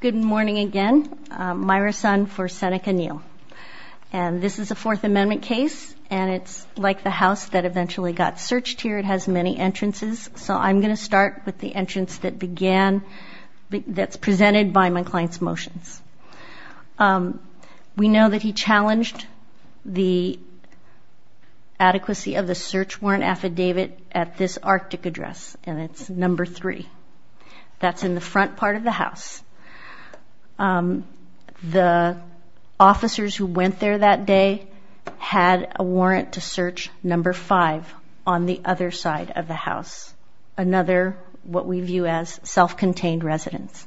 Good morning again. Myra Sun for Seneca Neal. And this is a Fourth Amendment case and it's like the house that eventually got searched here. It has many entrances. So I'm going to start with the entrance that began, that's presented by my client's motions. We know that he challenged the adequacy of the search warrant affidavit at this Arctic address and it's number three. That's in the front part of the house. The officers who went there that day had a warrant to search number five on the other side of the house, another what we view as self-contained residence.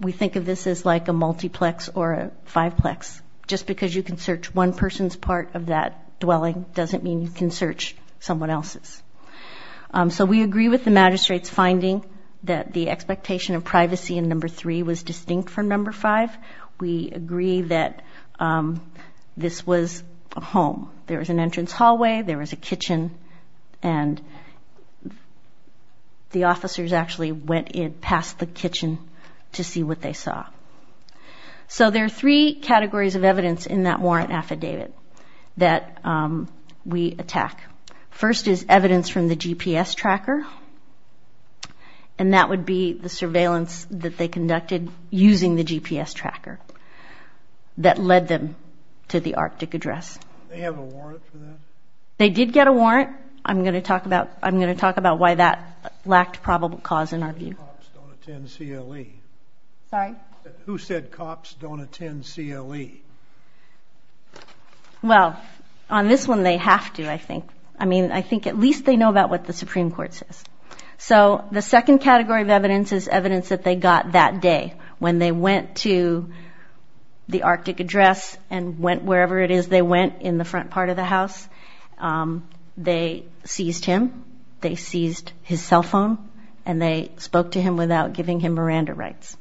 We think of this as like a multiplex or a fiveplex. Just because you can search one person's part of that dwelling doesn't mean you can search someone else's. So we agree with the magistrate's finding that the expectation of privacy in number three was distinct from number five. We agree that this was a home. There was an entrance hallway, there was a kitchen, and the officers actually went in past the kitchen to see what they saw. So there are three categories of evidence in that warrant affidavit that we attack. First is evidence from the GPS tracker, and that would be the surveillance that they conducted using the GPS tracker that led them to the Arctic address. Do they have a warrant for that? They did get a warrant. I'm going to talk about why that lacked probable cause in our view. Who said cops don't attend CLE? Well, on this one they have to, I think. I mean, I think at least they know about what the Supreme Court says. So the second category of evidence is evidence that they got that day when they went to the Arctic address and went wherever it is they went in the front part of the house. They seized him, they seized his cell phone, and they spoke to him without giving him Miranda rights.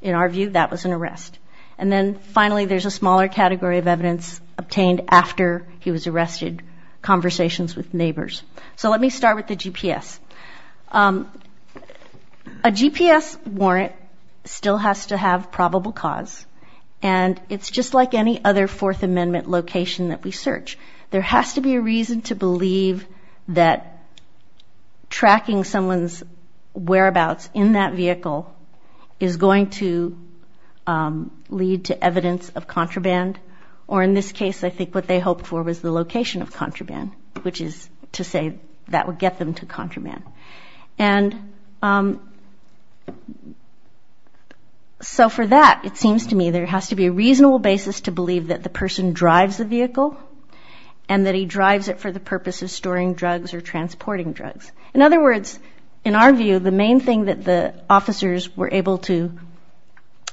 In our view, that was an arrest. And then finally, there's a smaller category of evidence obtained after he was arrested, conversations with neighbors. So let me start with the GPS. A GPS warrant still has to have probable cause, and it's just like any other Fourth Amendment location that we search. There has to be a reason to is going to lead to evidence of contraband. Or in this case, I think what they hoped for was the location of contraband, which is to say that would get them to contraband. And so for that, it seems to me there has to be a reasonable basis to believe that the person drives the vehicle and that he drives it for the purpose of storing drugs or transporting drugs. In other words, in our view, the main thing that the officers were able to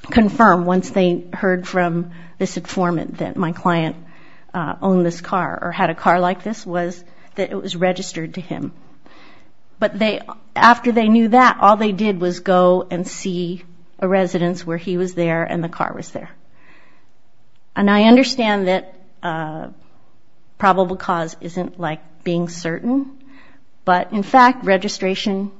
confirm once they heard from this informant that my client owned this car or had a car like this was that it was registered to him. But after they knew that, all they did was go and see a residence where he was there and the car was there. And I understand that probable cause isn't like being certain, but in fact, registration,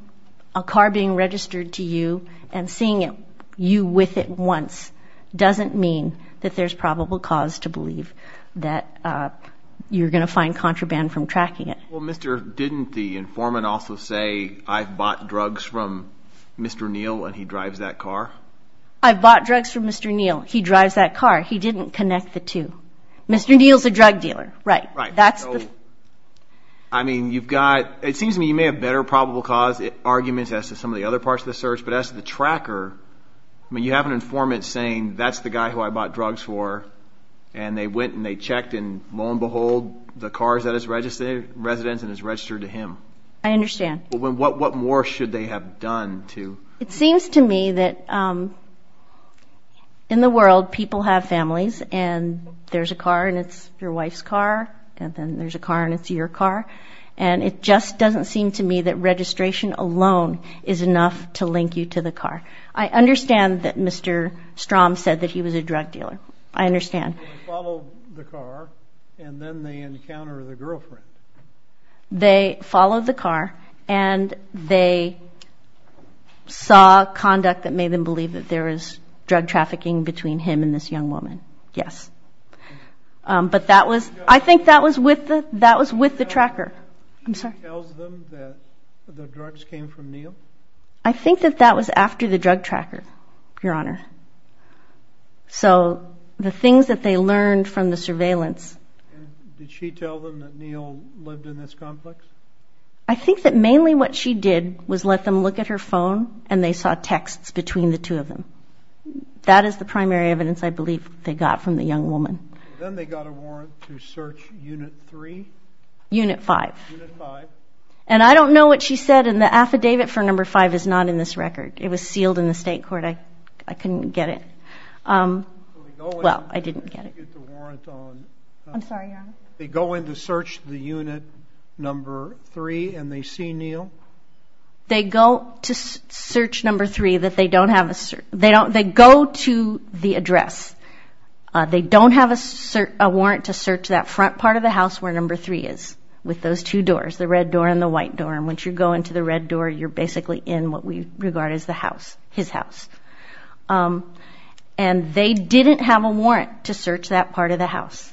a car being registered to you and seeing you with it once doesn't mean that there's probable cause to believe that you're going to find contraband from tracking it. Well, Mr., didn't the informant also say, I've bought drugs from Mr. Neal and he drives that car? I've bought drugs from Mr. Neal. He drives that car. He didn't connect the two. Mr. Neal's a drug dealer, right? Right. So, I mean, you've got, it seems to me you may have better probable cause arguments as to some of the other parts of the search, but as to the tracker, I mean, you have an informant saying that's the guy who I bought drugs for and they went and they checked and lo and behold, the car is at his residence and is registered to him. I understand. Well, what more should they have done to? It seems to me that, um, in the world, people have families and there's a car and it's your wife's car, and then there's a car and it's your car. And it just doesn't seem to me that registration alone is enough to link you to the car. I understand that Mr. Strom said that he was a drug dealer. I understand. They follow the car and then they encounter the girlfriend. They followed the car and they saw conduct that made them believe that there is drug trafficking between him and this young woman. Yes. Um, but that was, I think that was with the, that was with the tracker. I'm sorry. She tells them that the drugs came from Neal? I think that that was after the drug tracker, your honor. So the things that they learned from the surveillance. Did she tell them that Neal lived in this complex? I think that mainly what she did was let them look at her phone and they saw texts between the two of them. That is the primary evidence I believe they got from the young woman. Then they got a warrant to search unit three? Unit five. Unit five. And I don't know what she said in the affidavit for number five is not in this record. It was sealed in the state court. I, I couldn't get it. Um, well, I didn't get it. I didn't get the warrant on. I'm sorry, your honor. They go in to search the unit number three and they see Neal? They go to search number three that they don't have a, they don't, they go to the address. They don't have a warrant to search that front part of the house where number three is with those two doors, the red door and the white door. And once you go into the red door, you're basically in what we regard as the house, his house. Um, and they didn't have a warrant to search that part of the house.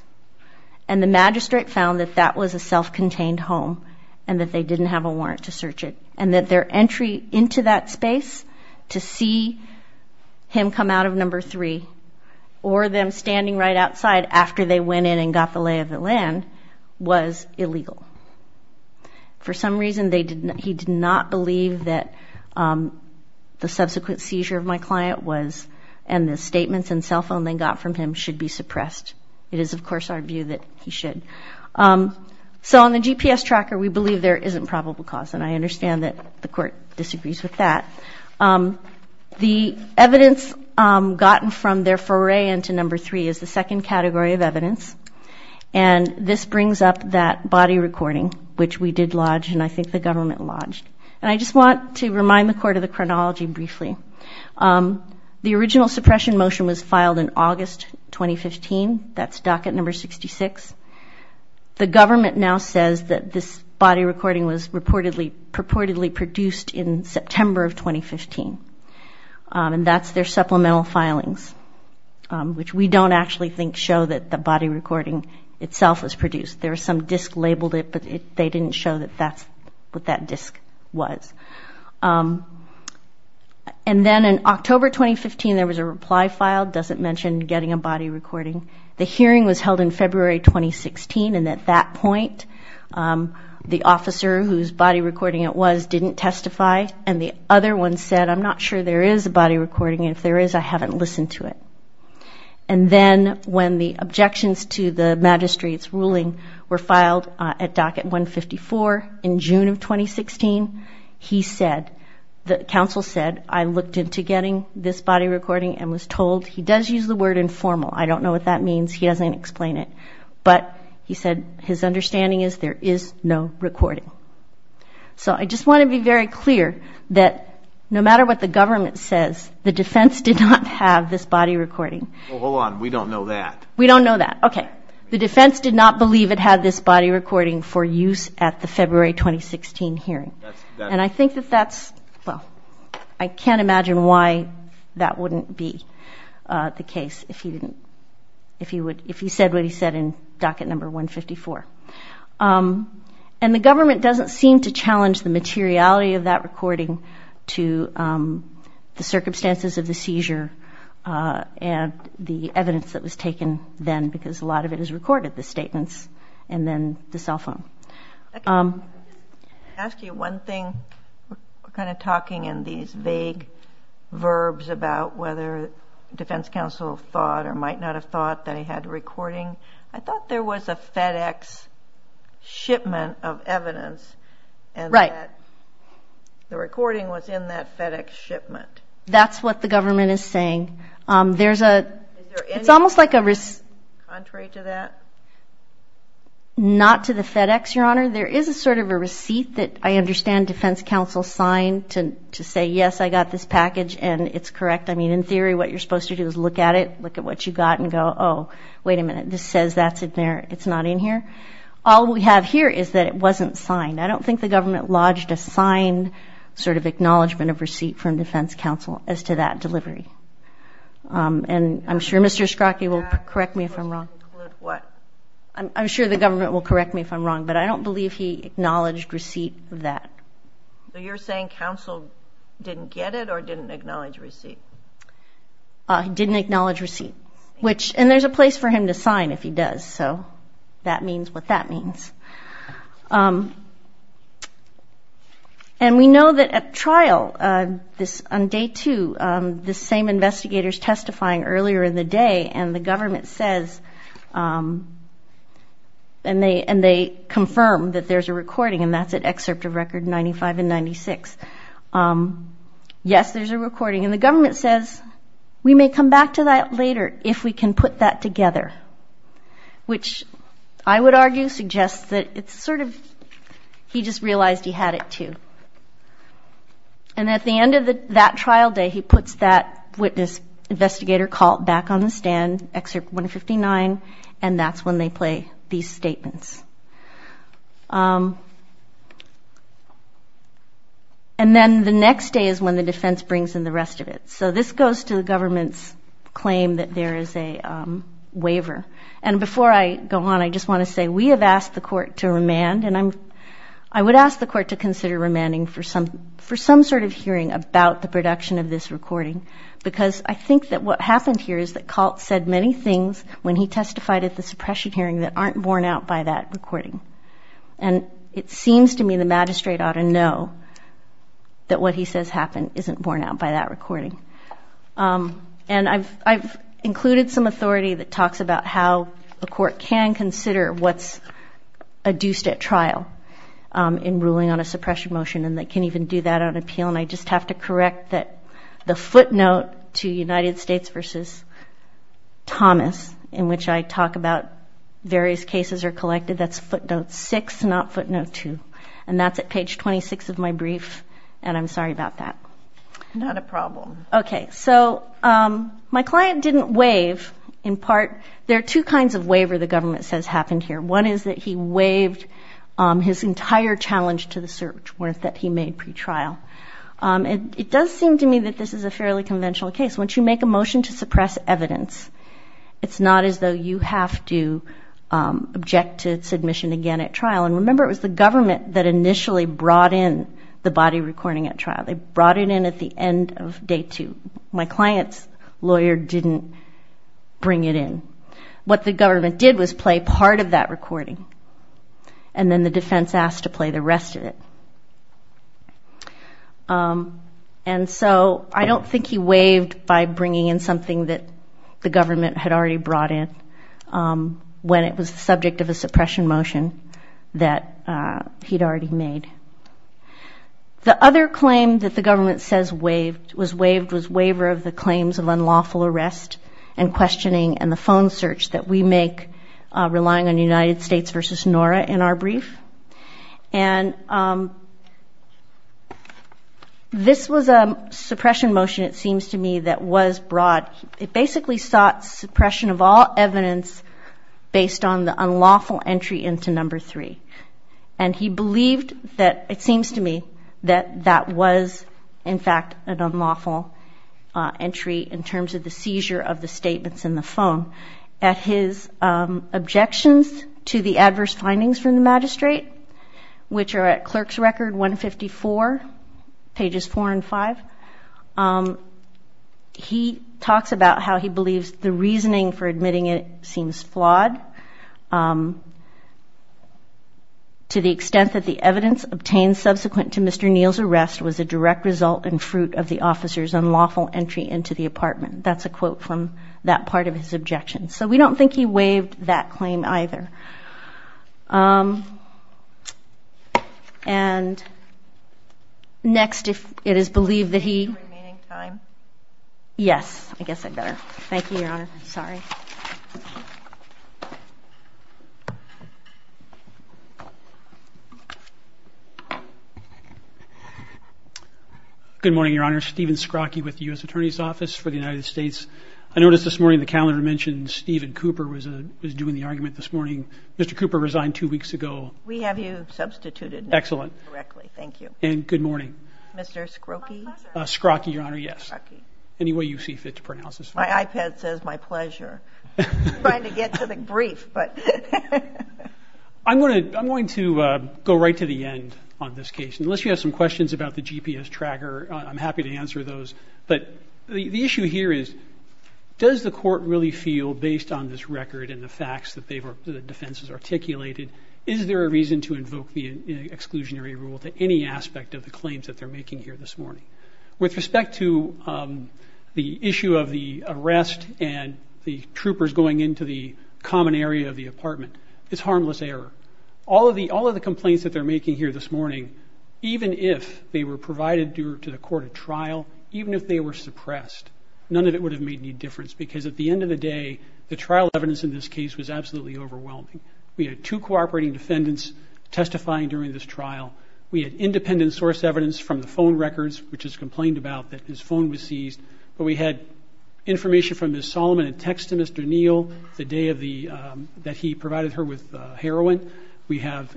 And the magistrate found that that was a self-contained home and that they didn't have a warrant to search it and that their entry into that space to see him come out of number three or them standing right outside after they went in and got the lay of the land was illegal. For some reason, they did not, he did not believe that, um, the subsequent seizure of my client was, and the statements and cell phone they got from him should be suppressed. It is of course our view that he should. Um, so on the GPS tracker, we believe there isn't probable cause and I understand that the court disagrees with that. Um, the evidence, um, gotten from their foray into number three is the second category of evidence. And this brings up that body recording, which we did lodge and I think the government lodged. And I just want to remind the court of the chronology briefly. Um, the original suppression motion was filed in August, 2015. That's docket number 66. The government now says that this body recording was reportedly purportedly produced in September of 2015. Um, and that's their supplemental filings, um, which we don't actually think show that the body recording itself was produced. There was some disc labeled it, but they didn't show that that's what that disc was. Um, and then in October, 2015, there was a reply filed. Doesn't mention getting a body recording. The hearing was held in February, 2016. And at that point, um, the officer whose body recording it was didn't testify. And the other one said, I'm not sure there is a body recording. If there is, I haven't listened to it. And then when the hearing was held in February, 2016, he said, the counsel said, I looked into getting this body recording and was told, he does use the word informal. I don't know what that means. He doesn't explain it. But he said, his understanding is there is no recording. So I just want to be very clear that no matter what the government says, the defense did not have this body recording. Hold on. We don't know that. We don't know that. Okay. The defense did not believe it had this body recording for use at the February, 2016 hearing. And I think that that's, well, I can't imagine why that wouldn't be, uh, the case if he didn't, if he would, if he said what he said in docket number 154. Um, and the government doesn't seem to challenge the materiality of that recording to, um, the circumstances of the seizure, uh, and the evidence that was taken then, because a lot of it is recorded, the statements and then the cell phone. Um, I can ask you one thing. We're kind of talking in these vague verbs about whether defense counsel thought or might not have thought that he had a recording. I thought there was a FedEx shipment of evidence and that the recording was in that FedEx shipment. That's what the government is saying. Um, there's a, it's almost like a risk contrary to that, not to the FedEx, your honor. There is a sort of a receipt that I understand defense counsel signed to, to say, yes, I got this package and it's correct. I mean, in theory, what you're supposed to do is look at it, look at what you got and go, oh, wait a minute. This says that's it there. It's not in here. All we have here is that it wasn't signed. I don't think the government lodged a sign sort of acknowledgement of receipt from defense counsel as to that delivery. Um, and I'm sure Mr. Scrockey will correct me if I'm wrong. I'm sure the government will correct me if I'm wrong, but I don't believe he acknowledged receipt of that. So you're saying counsel didn't get it or didn't acknowledge receipt? Didn't acknowledge receipt, which, and there's a place for him to sign if he does. So that means what that means. Um, and we know that at trial, uh, this undamaged record, which they too, um, the same investigators testifying earlier in the day and the government says, um, and they, and they confirm that there's a recording and that's an excerpt of record 95 and 96. Um, yes, there's a recording and the government says, we may come back to that later if we can put that together, which I would argue suggests that it's sort of, he just realized he had it too. And at the end of that trial day, he puts that witness investigator call it back on the stand, excerpt 159. And that's when they play these statements. Um, and then the next day is when the defense brings in the rest of it. So this goes to the government's claim that there is a, um, waiver. And before I go on, I just want to say, we have asked the court to remand and I'm, I would ask the court to consider remanding for some, for some sort of hearing about the production of this recording, because I think that what happened here is that Colt said many things when he testified at the suppression hearing that aren't borne out by that recording. And it seems to me the magistrate ought to know that what he says happened isn't borne out by that recording. Um, and I've, I've often consider what's adduced at trial, um, in ruling on a suppression motion and they can even do that on appeal. And I just have to correct that the footnote to United States versus Thomas, in which I talk about various cases are collected, that's footnote six, not footnote two. And that's at page 26 of my brief. And I'm sorry about that. Not a problem. Okay. So, um, my client didn't waive in part, there are two kinds of waiver the government says happened here. One is that he waived, um, his entire challenge to the search warrant that he made pretrial. Um, and it does seem to me that this is a fairly conventional case. Once you make a motion to suppress evidence, it's not as though you have to, um, object to submission again at trial. And remember it was the government that initially brought in the body recording at trial. They brought it in at the end of day two. My client's lawyer didn't bring it in. What the government did was play part of that recording. And then the defense asked to play the rest of it. Um, and so I don't think he waived by bringing in something that the government had already brought in, um, when it was the subject of a suppression motion that, uh, he'd already made. The other claim that the government says waived, was waived, was waiver of the claims of unlawful arrest and questioning and the phone search that we make, uh, relying on United States versus Nora in our brief. And, um, this was a suppression motion, it seems to me, that was brought. It basically sought suppression of all evidence based on the unlawful entry into number three. And he believed that, it seems to me, that that was in fact an unlawful entry in terms of the seizure of the statements in the phone. At his, um, objections to the adverse findings from the magistrate, which are at clerk's record 154, pages four and five, um, he talks about how he believes the reasoning for admitting it seems flawed, um, to the extent that the evidence obtained subsequent to Mr. Neal's arrest was a direct result and fruit of the officer's unlawful entry into the apartment. That's a quote from that part of his objections. So we don't think he waived that claim either. Um, and next, if it is believed that he... Thank you, Your Honor. Sorry. Good morning, Your Honor. Stephen Scrockey with the U.S. Attorney's Office for the United States. I noticed this morning the calendar mentioned Stephen Cooper was, uh, was doing the argument this morning. Mr. Cooper resigned two weeks ago. We have you substituted. Excellent. Correctly. Thank you. And good morning. Mr. Scrockey? Scrockey, Your Honor. Yes. Scrockey. Any way you see fit to pronounce this. My iPad says my pleasure. Trying to get to the brief, but... I'm going to, I'm going to, uh, go right to the end on this case. Unless you have some questions about the GPS tracker, I'm happy to answer those. But the, the issue here is, does the court really feel based on this record and the facts that they were, the defense has articulated, is there a reason to invoke the exclusionary rule to any aspect of the claims that they're making here this morning? With respect to, um, the issue of the arrest and the troopers going into the common area of the apartment, it's harmless error. All of the, all of the complaints that they're making here this morning, even if they were provided to the court at trial, even if they were suppressed, none of it would have made any difference because at the end of the day, the trial evidence in this case was absolutely overwhelming. We had two cooperating defendants testifying during this trial. We had independent source evidence from the phone records, which is complained about, that his phone was seized, but we had information from Ms. Solomon in text to Mr. Neal the day of the, um, that he provided her with heroin. We have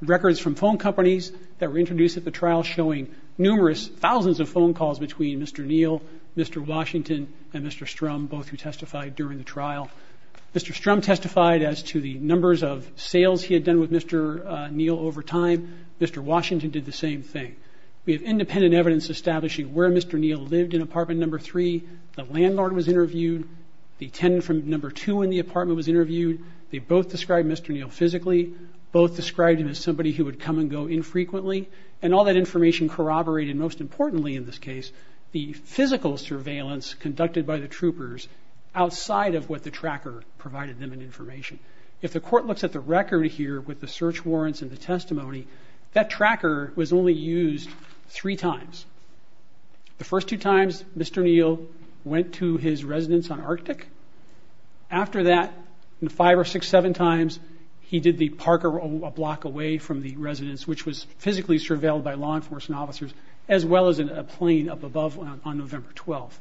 records from phone companies that were introduced at the trial showing numerous thousands of phone calls between Mr. Neal, Mr. Washington, and Mr. Strum, both who testified during the trial with Mr. Neal over time. Mr. Washington did the same thing. We have independent evidence establishing where Mr. Neal lived in apartment number three, the landlord was interviewed, the tenant from number two in the apartment was interviewed. They both described Mr. Neal physically, both described him as somebody who would come and go infrequently, and all that information corroborated, most importantly in this case, the physical surveillance conducted by the troopers outside of what the tracker provided them in information. If the court looks at the record here with the search warrants and the testimony, that tracker was only used three times. The first two times, Mr. Neal went to his residence on Arctic. After that, in five or six, seven times, he did the park a block away from the residence, which was physically surveilled by law enforcement officers, as well as in a plane up above on November 12th.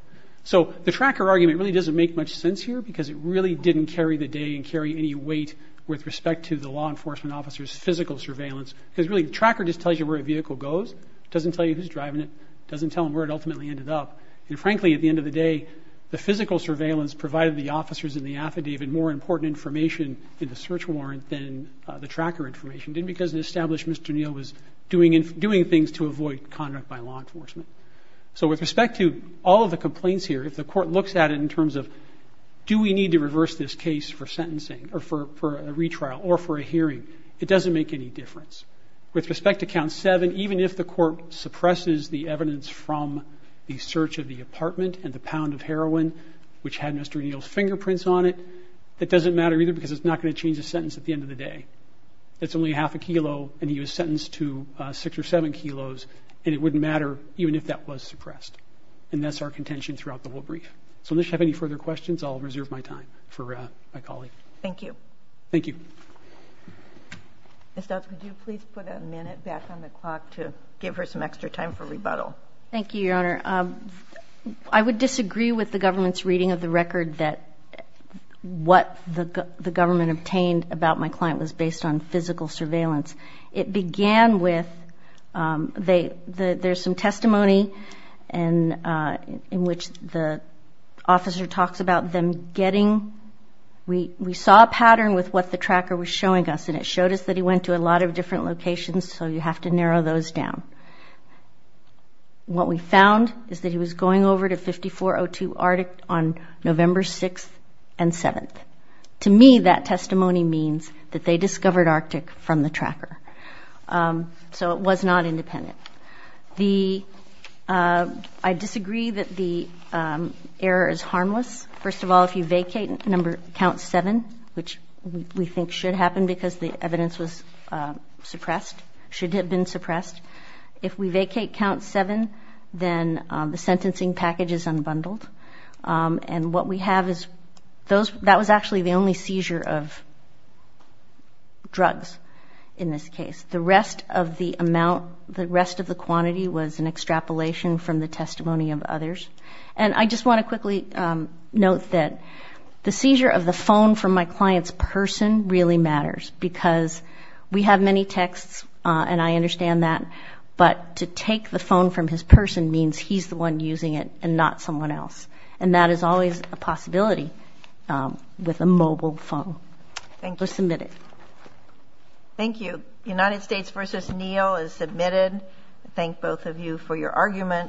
So the tracker argument really doesn't make much sense here because it really didn't carry the day and carry any weight with respect to the law enforcement officers' physical surveillance. Because really, the tracker just tells you where a vehicle goes, doesn't tell you who's driving it, doesn't tell them where it ultimately ended up. And frankly, at the end of the day, the physical surveillance provided the officers in the affidavit more important information in the search warrant than the tracker information, and because it established Mr. Neal was doing things to avoid conduct by law enforcement. So with respect to all of the complaints here, if the court looks at it in terms of, do we need to reverse this case for sentencing, or for a retrial, or for a hearing, it doesn't make any difference. With respect to count seven, even if the court suppresses the evidence from the search of the apartment and the pound of heroin, which had Mr. Neal's fingerprints on it, that doesn't matter either because it's not going to change the sentence at the end of the day. It's only half a kilo, and he was sentenced to six or seven kilos, and it wouldn't matter even if that was suppressed. And that's our contention throughout the whole brief. So unless you have any further questions, I'll reserve my time for my colleague. Thank you. Thank you. Ms. Stouts, would you please put a minute back on the clock to give her some extra time for rebuttal? Thank you, Your Honor. I would disagree with the government's reading of the record that what the government obtained about my client was based on physical surveillance. It began with – there's some testimony in which the officer talks about them getting – we saw a pattern with what the tracker was showing us, and it showed us that he went to a lot of different locations, so you have to narrow those down. What we found is that he was going over to 5402 Arctic on November 6th and 7th. To me, that testimony means that they discovered Arctic from the tracker. So it was not independent. I disagree that the error is harmless. First of all, if you vacate count 7, which we think should happen because the evidence was suppressed, should have been suppressed, if we vacate count 7, then the sentencing package is unbundled. And what we have is – that was actually the only seizure of drugs in this case. The rest of the amount – the rest of the quantity was an extrapolation from the testimony of others. And I just want to quickly note that the seizure of the phone from my client's person really matters because we have many texts and I understand that, but to take the phone from his person means he's the one mobile phone. Thank you. It was submitted. Thank you. United States v. Neil is submitted. I thank both of you for your argument.